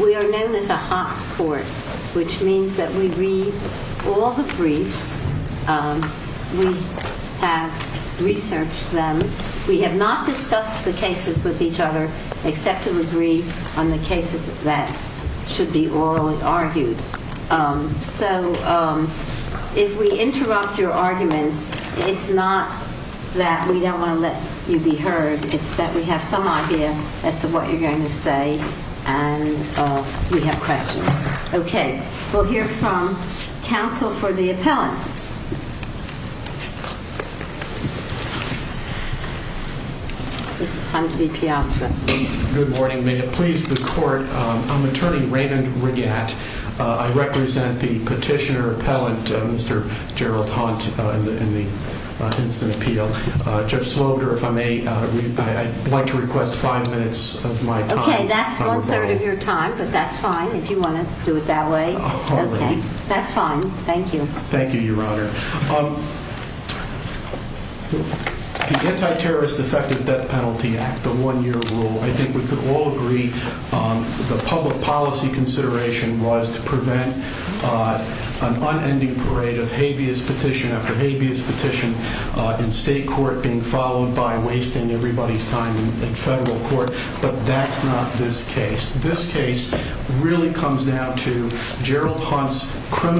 We are known as a hot court, which means that we read all the briefs, we have researched them, we have not discussed the cases with each other except to agree on the cases that should be orally argued. So if we interrupt your arguments, it's not that we don't want to let you be heard, it's that we have some idea as to what you're going to say and we have questions. Okay, we'll hear from counsel for the appellant. Good morning, may it please the court, I'm attorney Raymond Regatt, I represent the petitioner appellant, Mr. Gerald Hunt, in the incident appeal. Judge Sloander, if I may, I'd like to request five minutes of my time. Okay, that's one third of your time, but that's fine if you want to do it that way. Okay, that's fine, thank you. Thank you, your honor. The Anti-Terrorist Effective Debt Penalty Act, the one year rule, I think we could all agree the public policy consideration was to prevent an unending parade of habeas petition after habeas petition in state court being followed by wasting everybody's time in federal court, but that's not this case. This case really comes down to Gerald Hunt's case.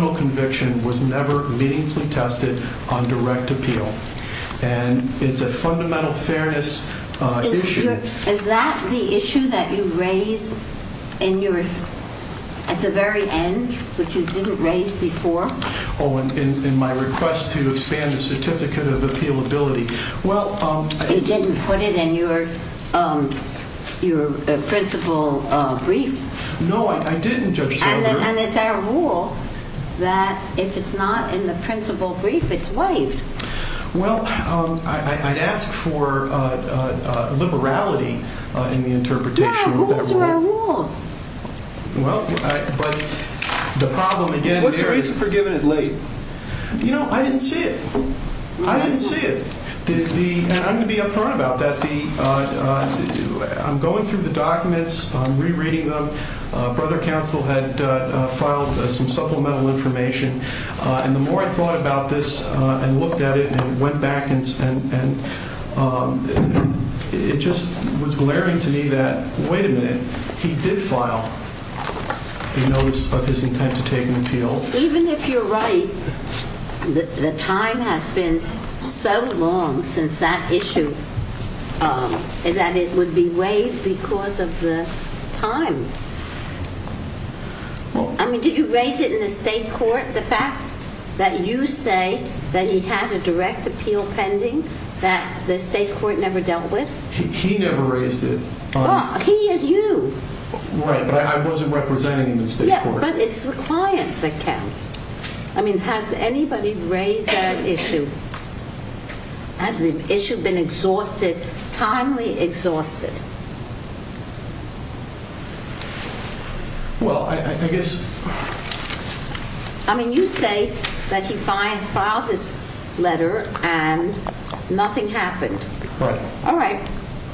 It's a case that's never meaningfully tested on direct appeal. And it's a fundamental fairness issue. Is that the issue that you raised at the very end, which you didn't raise before? Oh, in my request to expand the certificate of appealability. Well, you didn't put it in your principal brief. No, I didn't, Judge Sloander. And it's our rule that if it's not in the principal brief, it's waived. Well, I'd ask for liberality in the interpretation of that rule. No, those are our rules. Well, but the problem again... What's the reason for giving it late? You know, I didn't see it. I didn't see it. And I'm going to be upfront about that. I'm going through the documents. I'm rereading them. Brother Counsel had filed some supplemental information. And the more I thought about this and looked at it and went back and it just was glaring to me that, wait a minute, he did file a notice of his intent to take an appeal. Even if you're right, the time has been so long since that issue that it would be waived because of the time. I mean, did you raise it in the state court, the fact that you say that he had a direct appeal pending that the state court never dealt with? He never raised it. He is you. Right, but I wasn't representing the state court. Yeah, but it's the client that counts. I mean, has anybody raised that issue? Has the issue been exhausted, timely exhausted? Well, I guess... I mean, you say that he filed this letter and nothing happened. Right. All right.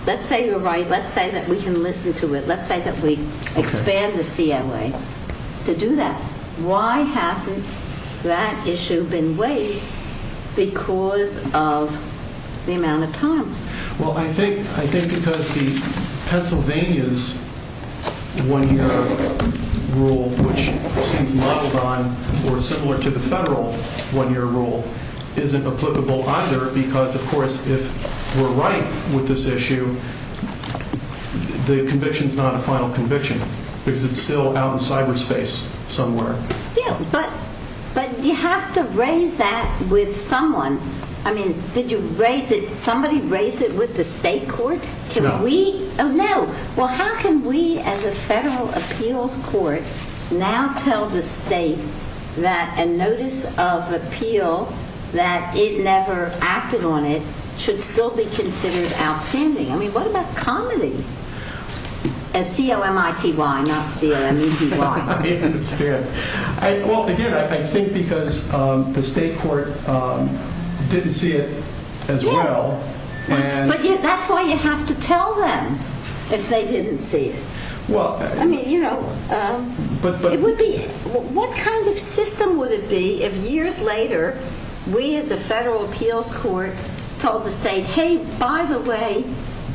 Let's say you're right. Let's say that we can listen to it. Let's say that we expand the CLA to do that. Why hasn't that issue been waived because of the amount of time? Well, I think because the Pennsylvania's one-year rule, which seems modeled on or similar to the federal one-year rule, isn't applicable either because, of course, if we're right with this issue, the conviction's not a final conviction because it's still out in cyberspace somewhere. Yeah, but you have to raise that with someone. I mean, did somebody raise it with the state court? No. Oh, no. Well, how can we as a federal appeals court now tell the state that a notice of appeal that it is M-I-T-Y, not C-L-M-E-T-Y? I understand. Well, again, I think because the state court didn't see it as well. Yeah, but that's why you have to tell them if they didn't see it. Well, I mean, you know, it would be... What kind of system would it be if years later we as a federal appeals court told the state, hey, by the way,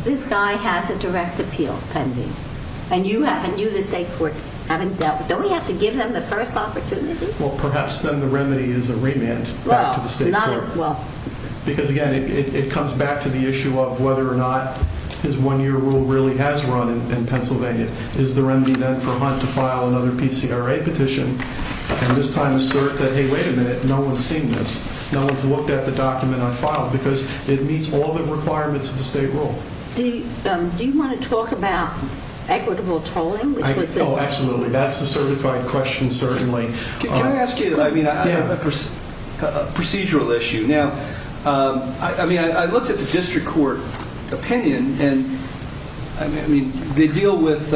this guy has a direct appeal pending, and you haven't... You, the state court, haven't dealt with... Don't we have to give them the first opportunity? Well, perhaps then the remedy is a remand back to the state court because, again, it comes back to the issue of whether or not this one-year rule really has run in Pennsylvania. Is the remedy then for Hunt to file another PCRA petition and this time assert that, hey, wait a minute, no one's seen this. No one's looked at the document I filed because it meets all the requirements of the state rule. Do you want to talk about equitable tolling? Oh, absolutely. That's the certified question certainly. Can I ask you, I mean, I have a procedural issue. Now, I mean, I looked at the district court opinion and, I mean, they deal with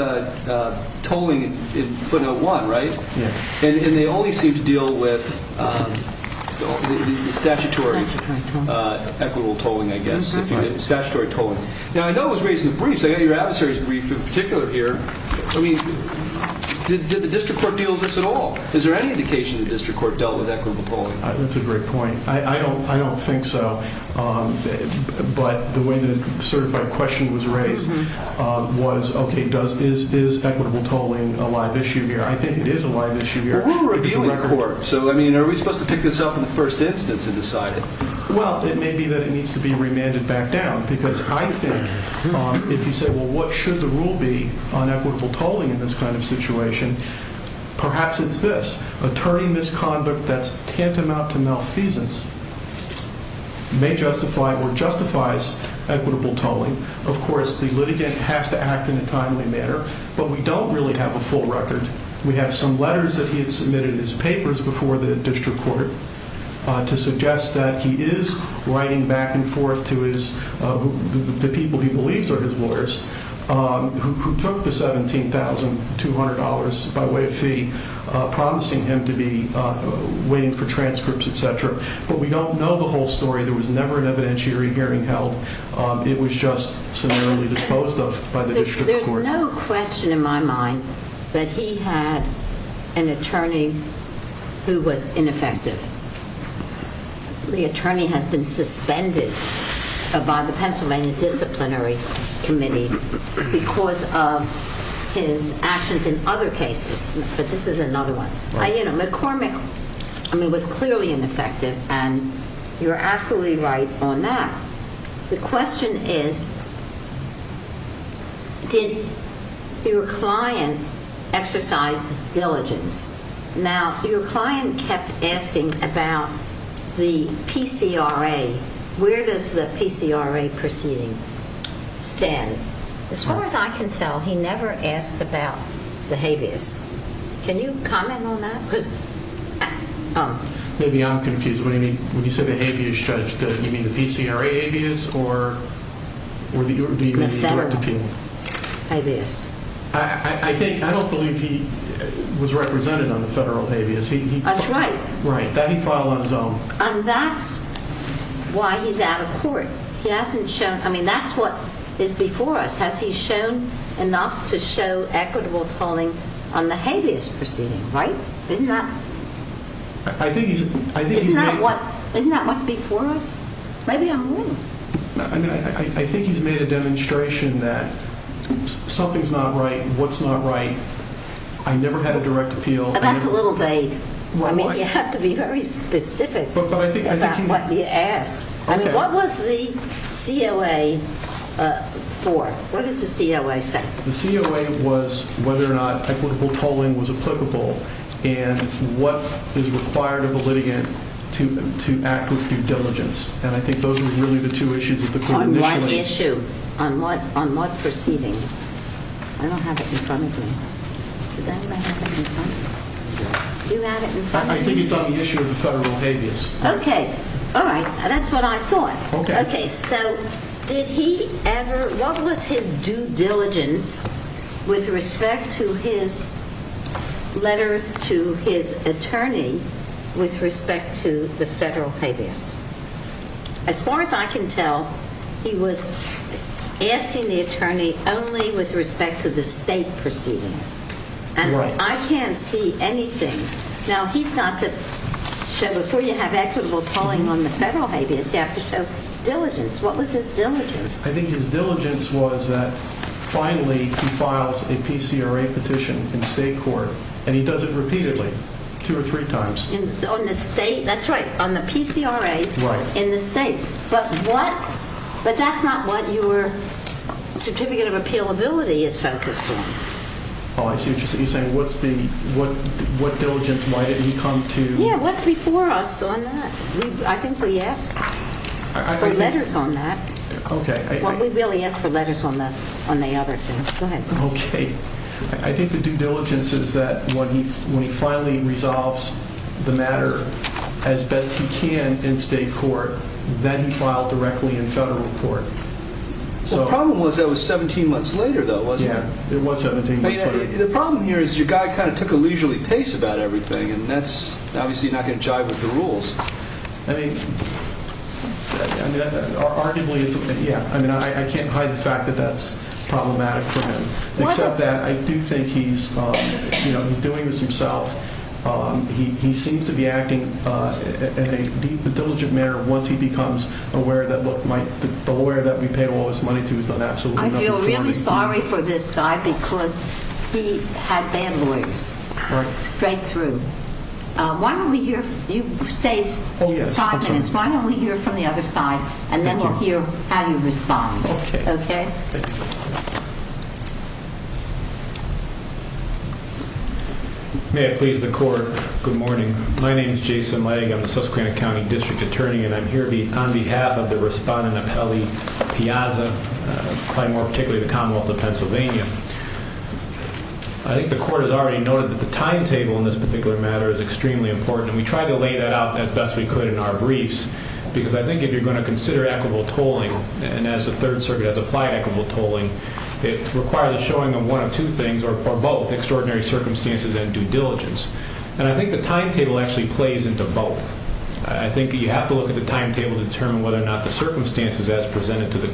tolling in footnote one, right? Yeah. And they only seem to deal with statutory equitable tolling, I guess, statutory tolling. Now, I know it was raised in the briefs. I got your adversary's brief in particular here. I mean, did the district court deal with this at all? Is there any indication the district court dealt with equitable tolling? That's a great point. I don't think so. But the way the certified question was raised was, okay, is equitable tolling a live issue here? I think it is a live issue here. Well, we're a dealing court. So, I mean, are we supposed to pick this up in the first instance and decide it? Well, it may be that it needs to be remanded back down because I think if you say, well, what should the rule be on equitable tolling in this kind of situation? Perhaps it's this, attorney misconduct that's tantamount to malfeasance may justify or justifies equitable tolling. Of course, the litigant has to act in a timely manner, but we don't really have a full record. We have some letters that he had submitted in his papers before the district court to suggest that he is writing back and forth to the people he believes are his lawyers, who took the $17,200 by way of fee, promising him to be waiting for transcripts, et cetera. But we don't know the whole story. There was never an evidentiary hearing held. It was just summarily disposed of by the district court. There's no question in my mind that he had an attorney who was ineffective. The case was amended by the Pennsylvania Disciplinary Committee because of his actions in other cases, but this is another one. McCormick was clearly ineffective, and you're absolutely right on that. The question is, did your client exercise diligence? Now, your client kept asking about the PCRA. Where does the PCRA proceeding stand? As far as I can tell, he never asked about the habeas. Can you comment on that? Maybe I'm confused. When you say the habeas, Judge, do you mean the PCRA habeas or do you mean the direct appeal? The federal habeas. I don't believe he was represented on the federal habeas. That's right. That he filed on his own. And that's why he's out of court. That's what is before us. Has he shown enough to show equitable tolling on the habeas proceeding? Isn't that what's before us? Maybe I'm wrong. I think he's made a demonstration that something's not right, what's not right. I never had a direct appeal. That's a little vague. I mean, you have to be very specific about what he asked. I mean, what was the COA for? What did the COA say? The COA was whether or not equitable tolling was applicable and what is required of a litigant to act with due diligence. And I think those are really the two issues that the court initially on what proceeding? I don't have it in front of me. Does anybody have it in front of them? Do you have it in front of you? I think it's on the issue of the federal habeas. Okay. All right. That's what I thought. Okay. So did he ever, what was his due diligence with respect to his letters to his attorney with respect to the federal habeas? As far as I can tell, he was asking the attorney only with respect to the state proceeding. Right. And I can't see anything. Now, he's not to show, before you have equitable tolling on the federal habeas, you have to show diligence. What was his diligence? I think his diligence was that finally he files a PCRA petition in state court and he does it repeatedly, two or three times. That's right, on the PCRA in the state. But that's not what your certificate of appealability is focused on. Oh, I see what you're saying. What's the, what diligence might he come to? Yeah, what's before us on that? I think we asked for letters on that. Okay. Well, we really asked for letters on the other thing. Go ahead. Okay. I think the due diligence is that when he finally resolves the matter as best he can in state court, then he filed directly in federal court. Well, the problem was that was 17 months later, though, wasn't it? Yeah, it was 17 months later. I mean, the problem here is your guy kind of took a leisurely pace about everything and that's obviously not going to jive with the rules. I mean, arguably, yeah. I mean, I can't hide the fact that that's problematic for him. Except that I do think he's, you know, he's doing this himself. He seems to be acting in a diligent manner once he becomes aware that, look, the lawyer that we paid all this money to is an absolute no-no for him. I feel really sorry for this guy because he had bad lawyers. Right. Why don't we hear – you saved five minutes. Why don't we hear from the other side and then we'll hear how you respond. Okay. Okay? May I please the court? Good morning. My name is Jason Lang. I'm the Susquehanna County District Attorney and I'm here on behalf of the respondent, Apelli Piazza, probably more particularly the Commonwealth of Pennsylvania. I think the court has already noted that the timetable in this particular matter is extremely important and we tried to lay that out as best we could in our briefs because I think if you're going to consider equitable tolling, and as the Third Circuit has applied equitable tolling, it requires a showing of one of two things or both, extraordinary circumstances and due diligence. And I think the timetable actually plays into both. I think you have to look at the timetable to determine whether or not the circumstances as presented to the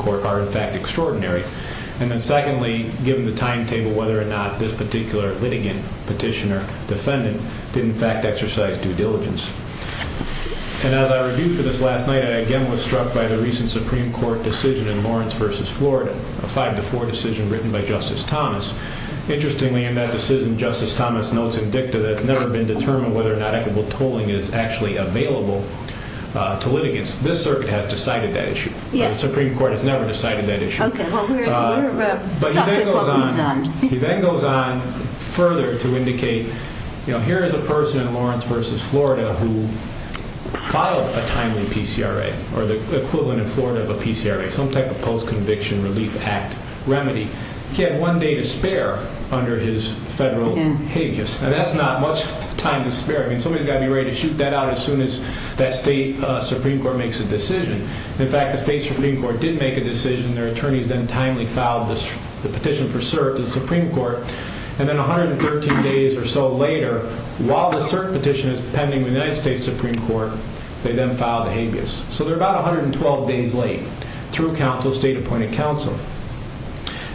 timetable, whether or not this particular litigant, petitioner, defendant, did in fact exercise due diligence. And as I reviewed for this last night, I again was struck by the recent Supreme Court decision in Lawrence v. Florida, a 5-4 decision written by Justice Thomas. Interestingly, in that decision, Justice Thomas notes in dicta that it's never been determined whether or not equitable tolling is actually available to litigants. This circuit has decided that issue. The Supreme Court has never decided that issue. Okay, well, we're stuck with what we've done. He then goes on further to indicate, you know, here is a person in Lawrence v. Florida who filed a timely PCRA, or the equivalent in Florida of a PCRA, some type of post-conviction relief act remedy. He had one day to spare under his federal habeas. Now, that's not much time to spare. I mean, somebody's got to be ready to shoot that out as soon as that state Supreme Court makes a decision. In fact, the state Supreme Court did make a decision, their attorneys then timely filed the petition for cert to the Supreme Court, and then 113 days or so later, while the cert petition is pending with the United States Supreme Court, they then filed a habeas. So they're about 112 days late through counsel, state appointed counsel.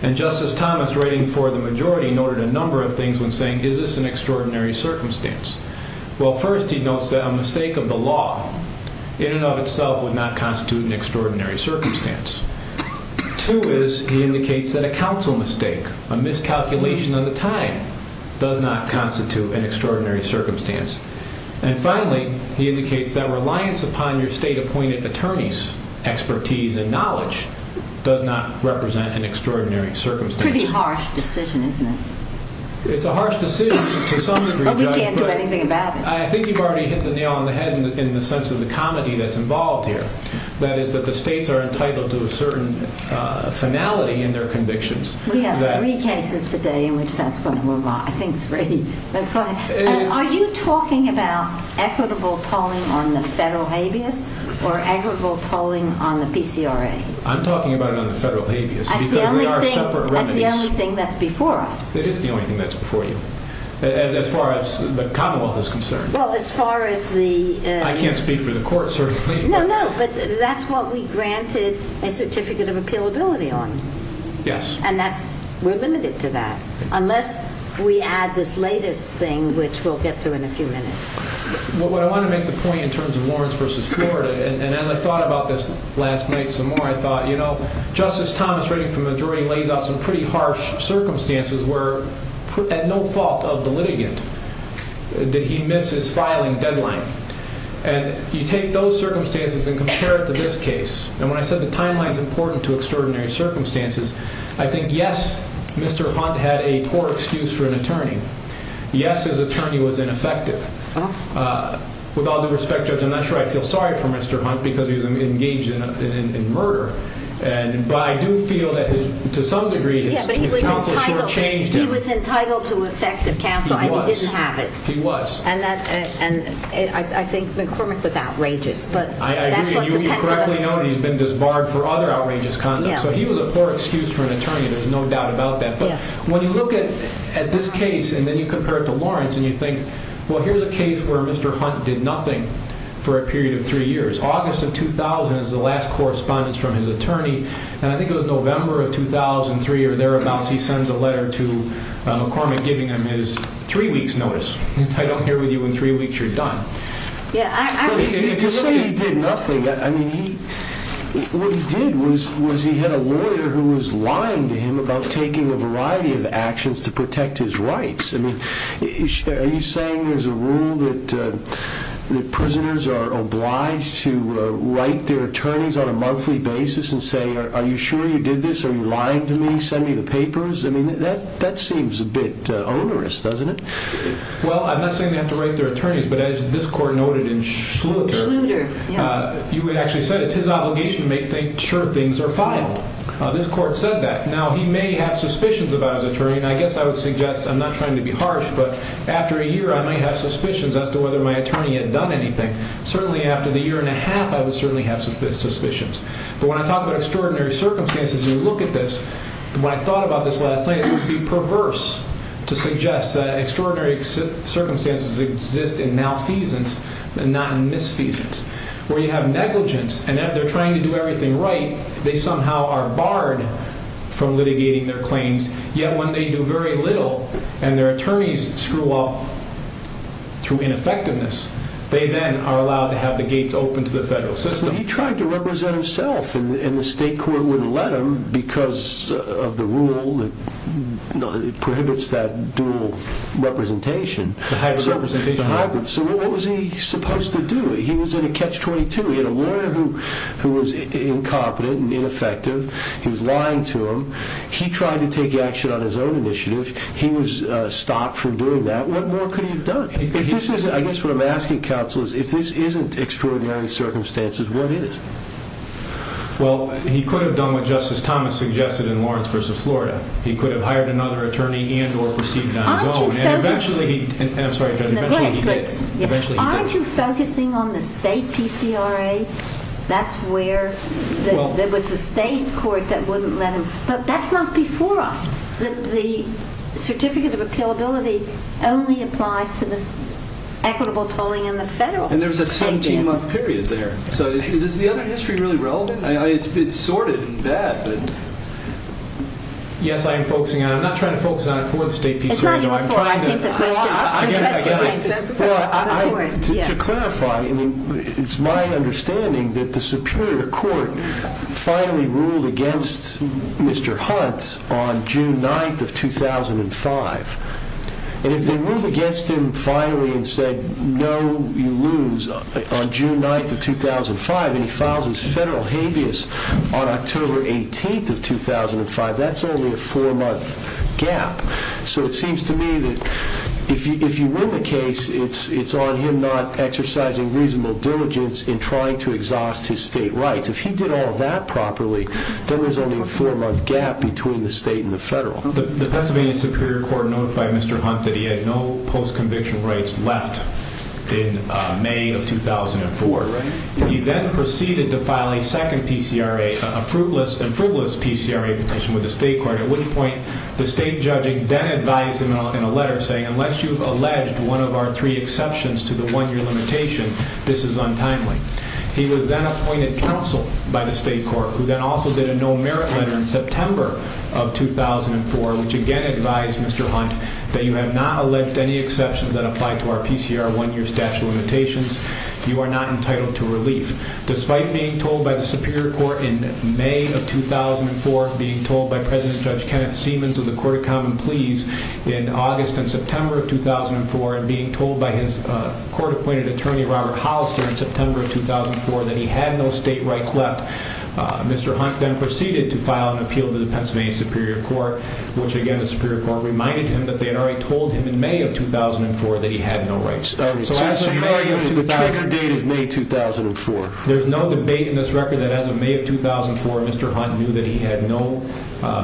And Justice Thomas, writing for the majority, noted a number of things when saying, is this an extraordinary circumstance? Well, first, he notes that a mistake of the time does not constitute an extraordinary circumstance. And finally, he indicates that reliance upon your state appointed attorney's expertise and knowledge does not represent an extraordinary circumstance. Pretty harsh decision, isn't it? It's a harsh decision to some degree. We can't do anything about it. I think you've already hit the nail on the head in the sense of the comedy that's involved here. That is that the states are in their convictions. We have three cases today in which that's going to move on. I think three. Are you talking about equitable tolling on the federal habeas or equitable tolling on the PCRA? I'm talking about it on the federal habeas. That's the only thing that's before us. It is the only thing that's before you. As far as the Commonwealth is concerned. Well, as far as the... I can't speak for the court, certainly. No, no, but that's what we granted a certificate of appealability on. Yes. And that's... we're limited to that unless we add this latest thing, which we'll get to in a few minutes. What I want to make the point in terms of Lawrence v. Florida, and as I thought about this last night some more, I thought, you know, Justice Thomas writing from the jury lays out some pretty harsh circumstances where at no fault of the litigant did he miss his filing deadline. And you take those circumstances and compare it to this case. And when I said the timeline is important to extraordinary circumstances, I think, yes, Mr. Hunt had a poor excuse for an attorney. Yes, his attorney was ineffective. With all due respect, Judge, I'm not sure I feel sorry for Mr. Hunt because he was engaged in murder. But I do feel that to some degree his counsel sure changed him. He was entitled to effective counsel and he didn't have it. He was. And I think McCormick was outrageous. I agree. And you correctly know he's been disbarred for other outrageous conduct. So he was a poor excuse for an attorney. There's no doubt about that. But when you look at this case and then you compare it to Lawrence and you think, well, here's a case where Mr. Hunt did nothing for a period of three years. August of 2000 is the last correspondence from his attorney. And I think it was November of 2003 or thereabouts, he sends a letter to McCormick giving him his three weeks notice. I don't hear with you in three weeks, you're done. Yeah. To say he did nothing, I mean, what he did was he had a lawyer who was lying to him about taking a variety of actions to protect his rights. I mean, are you saying there's a rule that prisoners are obliged to write their attorneys on a monthly basis and say, are you sure you did this? Are you lying to me? Send me the papers. I mean, that that seems a bit onerous, doesn't it? Well, I'm not saying they have to write their attorneys, but as this court noted in Schluter, you actually said it's his obligation to make sure things are filed. This court said that now he may have suspicions about his attorney. And I guess I would suggest I'm not trying to be harsh, but after a year I might have suspicions as to whether my attorney had done anything. Certainly after the year and a half, I would certainly have suspicions. But when I talk about extraordinary circumstances, you look at this, when I thought about this last night, it would be perverse to suggest that extraordinary circumstances exist in malfeasance and not in misfeasance, where you have negligence. And if they're trying to do everything right, they somehow are barred from litigating their claims. Yet when they do very little and their attorneys screw up through ineffectiveness, they then are allowed to have the gates open to the federal system. But he tried to represent himself and the state court wouldn't let him because of the rule that prohibits that dual representation. The hybrid representation. The hybrid. So what was he supposed to do? He was in a catch-22. He had a lawyer who stopped him from doing that. What more could he have done? I guess what I'm asking counsel is, if this isn't extraordinary circumstances, what is? Well, he could have done what Justice Thomas suggested in Lawrence v. Florida. He could have hired another attorney and or proceeded on his own. Aren't you focusing on the state PCRA? That's where there was the state court that wouldn't let him. But that's not before us. The Certificate of Appealability only applies to the equitable tolling in the federal case. And there's a 17-month period there. So is the other history really relevant? It's sorted in that. Yes, I am focusing on it. I'm not trying to focus on it for the state PCRA. It's not your fault. I think the question is for the court. To clarify, it's my understanding that the Superior Court finally ruled against Mr. Hunt on June 9th of 2005. And if they ruled against him finally and said, no, you lose on June 9th of 2005 and he files his federal habeas on October 18th of 2005, that's only a four-month gap. So it seems to me that if you win the case, it's on him not exercising reasonable diligence in trying to exhaust his state rights. If he did all that properly, then there's only a four-month gap between the state and the federal. The Pennsylvania Superior Court notified Mr. Hunt that he had no post-conviction rights left in May of 2004. He then proceeded to file a second PCRA, a frugalist PCRA petition with the state court, at which point the state judging then advised him in a letter saying, unless you've alleged one of our three exceptions to the one-year limitation, this is untimely. He was then appointed counsel by the state court, who then also did a no-merit letter in September of 2004, which again advised Mr. Hunt that you have not alleged any exceptions that apply to our PCR one-year statute of limitations. You are not entitled to relief. Despite being told by the Superior Court in May of 2004, being told by President Judge Kenneth Siemens of the Court of Common Pleas in August and September of 2004, and being told by his court-appointed attorney Robert Hollister in September of 2004 that he had no state rights left, Mr. Hunt then proceeded to file an appeal to the Pennsylvania Superior Court, which again the Superior Court reminded him that they had already told him in May of 2004 that he had no rights. The trigger date of May 2004. There's no debate in this record that as of May of 2004, Mr. Hunt knew that he had no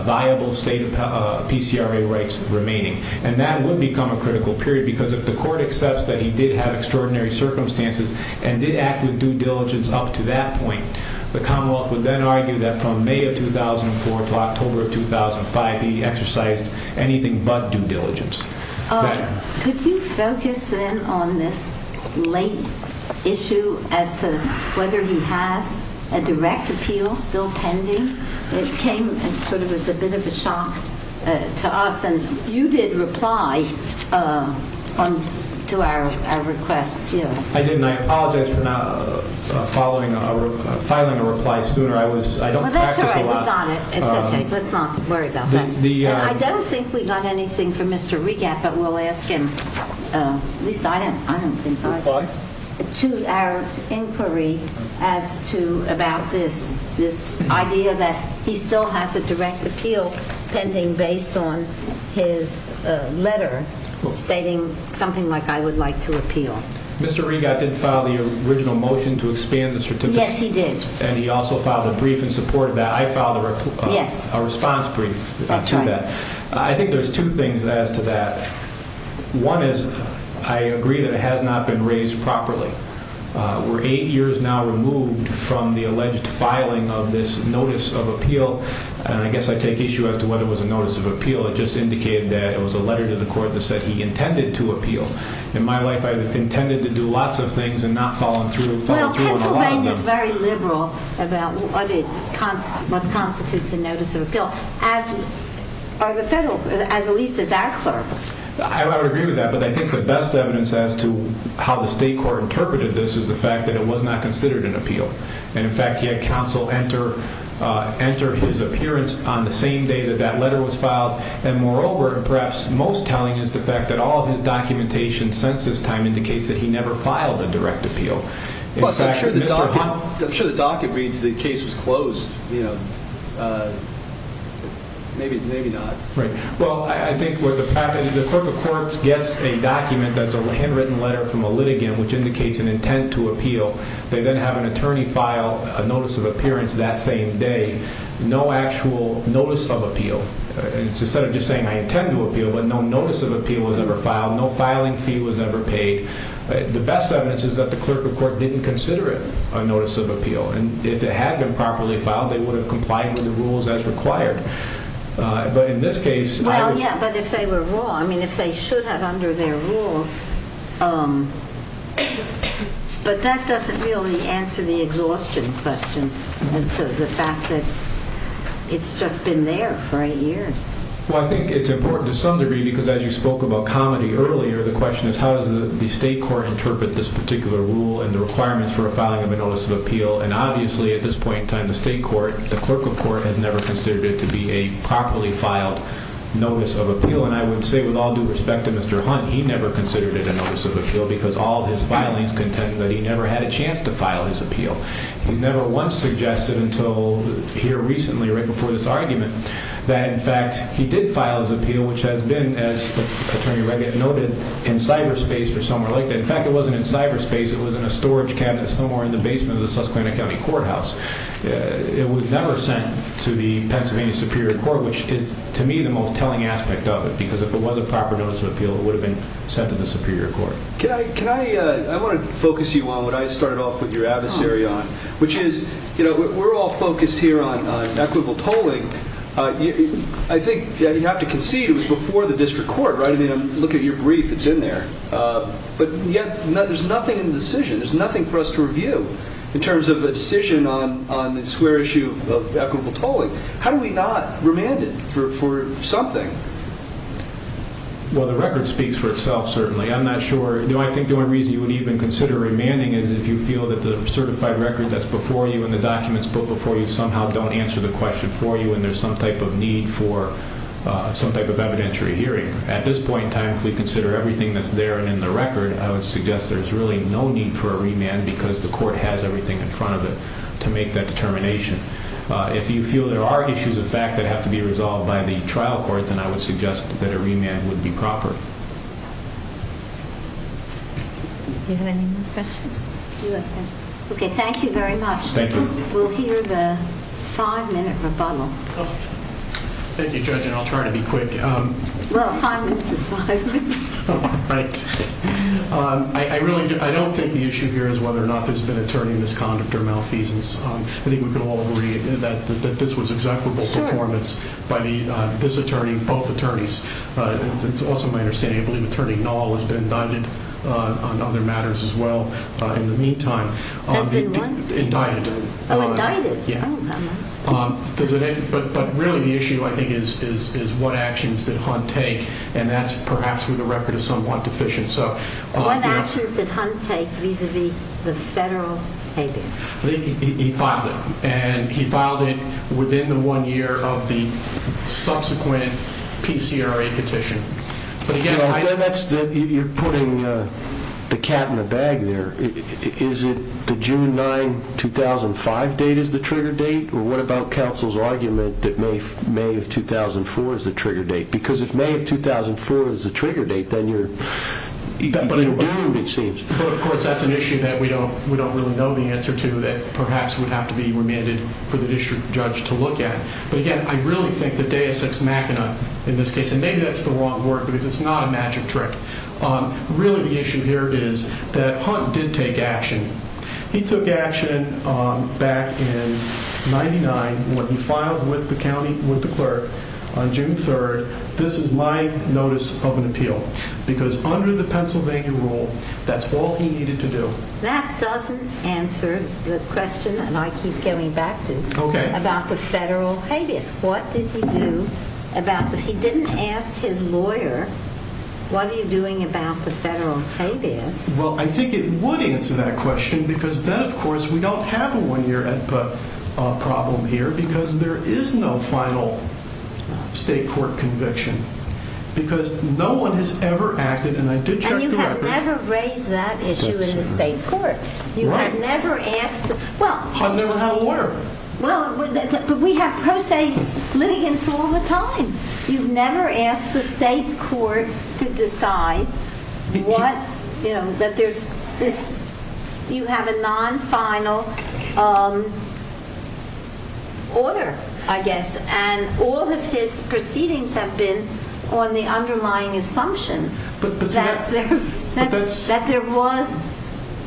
viable state PCRA rights remaining. And that would become a critical period, because if the court accepts that he did have extraordinary circumstances and did act with due diligence up to that point, the Commonwealth would then argue that from May of 2004 to October of 2005, he exercised anything but due diligence. Could you focus then on this late issue as to whether he has a direct appeal still pending? It came sort of as a bit of a shock to us, and you did reply to our request. I didn't. I apologize for not filing a reply sooner. I don't practice a lot. That's all right. We got it. It's okay. Let's not worry about that. I don't think we've done anything for Mr. Regatt, but we'll ask him, at least I don't think I did, to our inquiry as to about this idea that he still has a direct appeal pending based on his letter stating something like, I would like to appeal. Mr. Regatt did file the original motion to expand the certificate. Yes, he did. And he also filed a brief in support of that. I filed a response brief. That's right. I think there's two things as to that. One is, I agree that it has not been raised properly. We're eight years now removed from the alleged filing of this notice of appeal. And I guess I take issue as to whether it was a notice of appeal. It just indicated that it was a letter to the court that said he intended to appeal. In my life, I've intended to do lots of things and not fallen through. Well, at least as our clerk. I would agree with that, but I think the best evidence as to how the state court interpreted this is the fact that it was not considered an appeal. And in fact, he had counsel enter his appearance on the same day that that letter was filed. And moreover, perhaps most telling is the fact that all of his documentation since this time indicates that he never filed a direct appeal. Plus, I'm sure the docket reads the case was closed. Maybe not. Well, I think what the clerk of courts gets a document that's a handwritten letter from a litigant, which indicates an intent to appeal. They then have an attorney file a notice of appearance that same day. No actual notice of appeal. Instead of just saying, I intend to appeal, but no notice of appeal was ever filed. No filing fee was ever paid. The best evidence is that the clerk of court didn't consider it a notice of appeal. And if it had been properly filed, they would have complied with the rules as required. But in this case. Well, yeah, but if they were wrong, I mean, if they should have under their rules. But that doesn't really answer the exhaustion question. And so the fact that it's just been there for eight years. Well, I think it's important to some degree because as you spoke about comedy earlier, the question is, how does the state court interpret this particular rule and the requirements for a filing of a notice of appeal? And obviously at this point in time, the state court, the clerk of court, has never considered it to be a properly filed notice of appeal. And I would say with all due respect to Mr. Hunt, he never considered it a notice of appeal because all of his filings contended that he never had a chance to file his appeal. He never once suggested until here recently, right before this argument, that in fact he did file his appeal, which has been, as Attorney Reagan noted, in cyberspace or somewhere like that. In fact, it wasn't in cyberspace. It was in a storage cabinet somewhere in the basement of the Susquehanna County Courthouse. It was never sent to the Pennsylvania Superior Court, which is to me the most telling aspect of it, because if it was a proper notice of appeal, it would have been sent to the Superior Court. Can I, I want to focus you on what I started off with your adversary on, which is, you know, we're all focused here on equitable tolling. I think you have to concede it was before the district court, right? I mean, look at your brief. It's in there. But yet, there's nothing in the decision. There's nothing for us to review in terms of a decision on the square issue of equitable tolling. How do we not remand it for something? Well, the record speaks for itself, certainly. I'm not sure, you know, I think the only reason you would even consider remanding is if you feel that the certified record that's before you and the documents put before you somehow don't answer the question for you, and there's some type of need for some type of evidentiary hearing. At this point in time, if we consider everything that's there and in the record, I would suggest there's really no need for a remand because the court has everything in front of it to make that determination. If you feel there are issues of fact that have to be resolved by the trial court, then I would suggest that a remand would be proper. Do you have any more questions? Okay, thank you very much. Thank you. We'll hear the five-minute rebuttal. Thank you, Judge, and I'll try to be quick. Well, five minutes is five minutes. Right. I don't think the issue here is whether or not there's been attorney misconduct or malfeasance. I think we can all agree that this was an executable performance by this attorney and both attorneys. It's also my understanding, I believe, Attorney Knoll has been indicted on other matters as well in the meantime. Has been what? Indicted. Oh, indicted. Yeah. Oh, I'm lost. But really the issue, I think, is what actions did Hunt take, and that's perhaps where the record is somewhat deficient. What actions did Hunt take vis-à-vis the federal case? He filed it. And he filed it within the one year of the subsequent PCRA petition. You're putting the cat in the bag there. Is it the June 9, 2005 date is the trigger date, or what about counsel's argument that May of 2004 is the trigger date? Because if May of 2004 is the trigger date, then you're doomed, it seems. But, of course, that's an issue that we don't really know the answer to that perhaps would have to be remanded for the district judge to look at. But, again, I really think that deus ex machina in this case, and maybe that's the wrong word because it's not a magic trick, really the issue here is that Hunt did take action. He took action back in 99 when he filed with the county, with the clerk, on June 3. This is my notice of an appeal because under the Pennsylvania rule, that's all he needed to do. That doesn't answer the question that I keep coming back to about the federal habeas. What did he do about that? He didn't ask his lawyer, what are you doing about the federal habeas? Well, I think it would answer that question because then, of course, we don't have a one year problem here because there is no final state court conviction because no one has ever acted, and I did check the record. You've never raised that issue in the state court. I've never had a lawyer. But we have pro se litigants all the time. You've never asked the state court to decide that you have a non-final order, I guess, and all of his proceedings have been on the underlying assumption that there was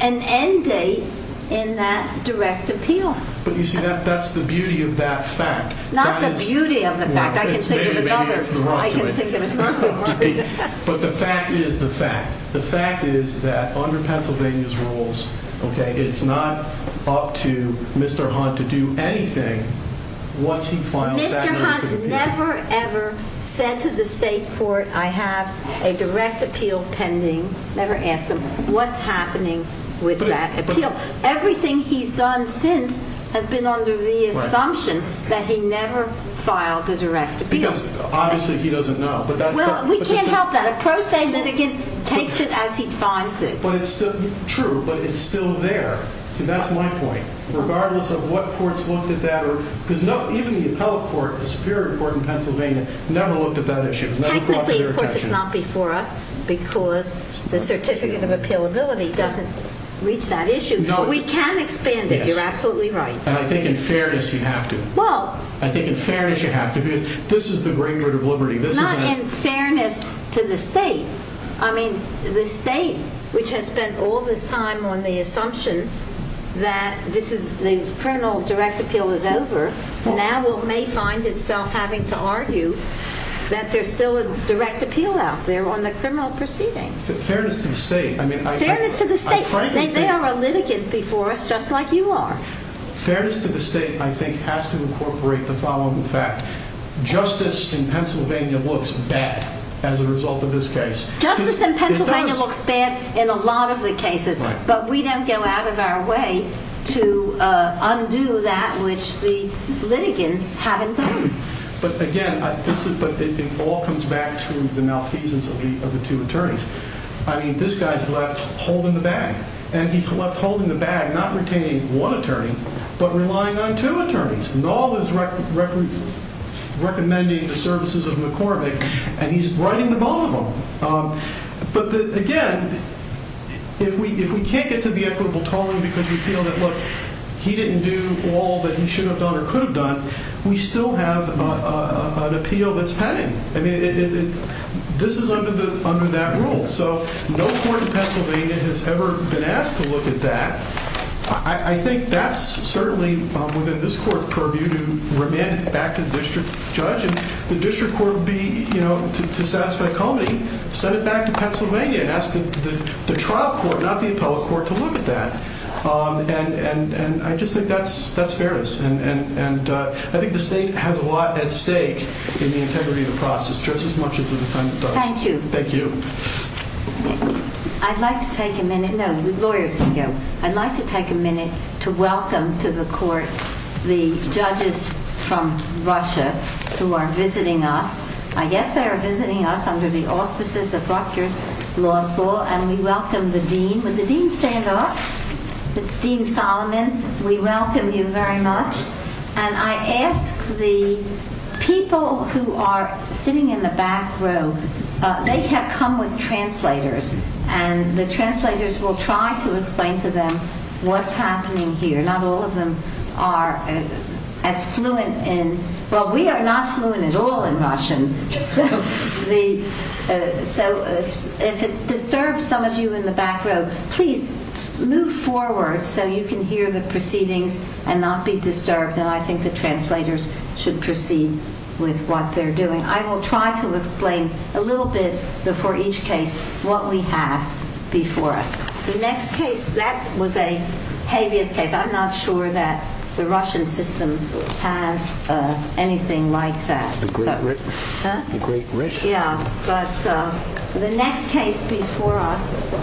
an end date in that direct appeal. But you see, that's the beauty of that fact. Not the beauty of the fact. I can think of another. But the fact is the fact. The fact is that under Pennsylvania's rules, it's not up to Mr. Hunt to do anything once he files that notice of appeal. Mr. Hunt never, ever said to the state court, I have a direct appeal pending. Never asked him what's happening with that appeal. Everything he's done since has been under the assumption that he never filed a direct appeal. Because obviously he doesn't know. Well, we can't help that. A pro se litigant takes it as he finds it. True, but it's still there. See, that's my point. Regardless of what courts looked at that. Even the appellate court, the Superior Court in Pennsylvania, never looked at that issue. Technically, of course, it's not before us because the Certificate of Appealability doesn't reach that issue. But we can expand it. You're absolutely right. And I think in fairness you have to. I think in fairness you have to. This is the Greenwood of Liberty. It's not in fairness to the state. The state, which has spent all this time on the assumption that the criminal direct appeal is over, now may find itself having to argue that there's still a direct appeal out there on the criminal proceeding. Fairness to the state. Fairness to the state. They are a litigant before us, just like you are. Fairness to the state, I think, has to incorporate the following fact. Justice in Pennsylvania looks bad as a result of this case. Justice in Pennsylvania looks bad in a lot of the cases. But we don't go out of our way to undo that, which the litigants haven't done. But again, it all comes back to the malfeasance of the two attorneys. I mean, this guy's left holding the bag. And he's left holding the bag, not retaining one attorney, but relying on two attorneys. And all this recommending the services of McCormick, and he's writing to both of them. But again, if we can't get to the equitable tone because we feel that, look, he didn't do all that he should have done or could have done, we still have an appeal that's pending. I mean, this is under that rule. So no court in Pennsylvania has ever been asked to look at that. I think that's certainly within this court's purview to remand it back to the district judge. And the district court would be, you know, to satisfy Comey, send it back to Pennsylvania and ask the trial court, not the appellate court, to look at that. And I just think that's fairness. And I think the state has a lot at stake in the integrity of the process, just as much as it does. Thank you. Thank you. I'd like to take a minute. No, the lawyers can go. I'd like to take a minute to welcome to the court the judges from Russia who are visiting us. I guess they are visiting us under the auspices of Rutgers Law School, and we welcome the dean. Would the dean stand up? It's Dean Solomon. We welcome you very much. And I ask the people who are sitting in the back row, they have come with translators, and the translators will try to explain to them what's happening here. Not all of them are as fluent in, well, we are not fluent at all in Russian. So if it disturbs some of you in the back row, please move forward so you can hear the proceedings and not be disturbed, and I think the translators should proceed with what they're doing. I will try to explain a little bit before each case what we have before us. The next case, that was a habeas case. I'm not sure that the Russian system has anything like that. The great rich? Yeah, but the next case before us.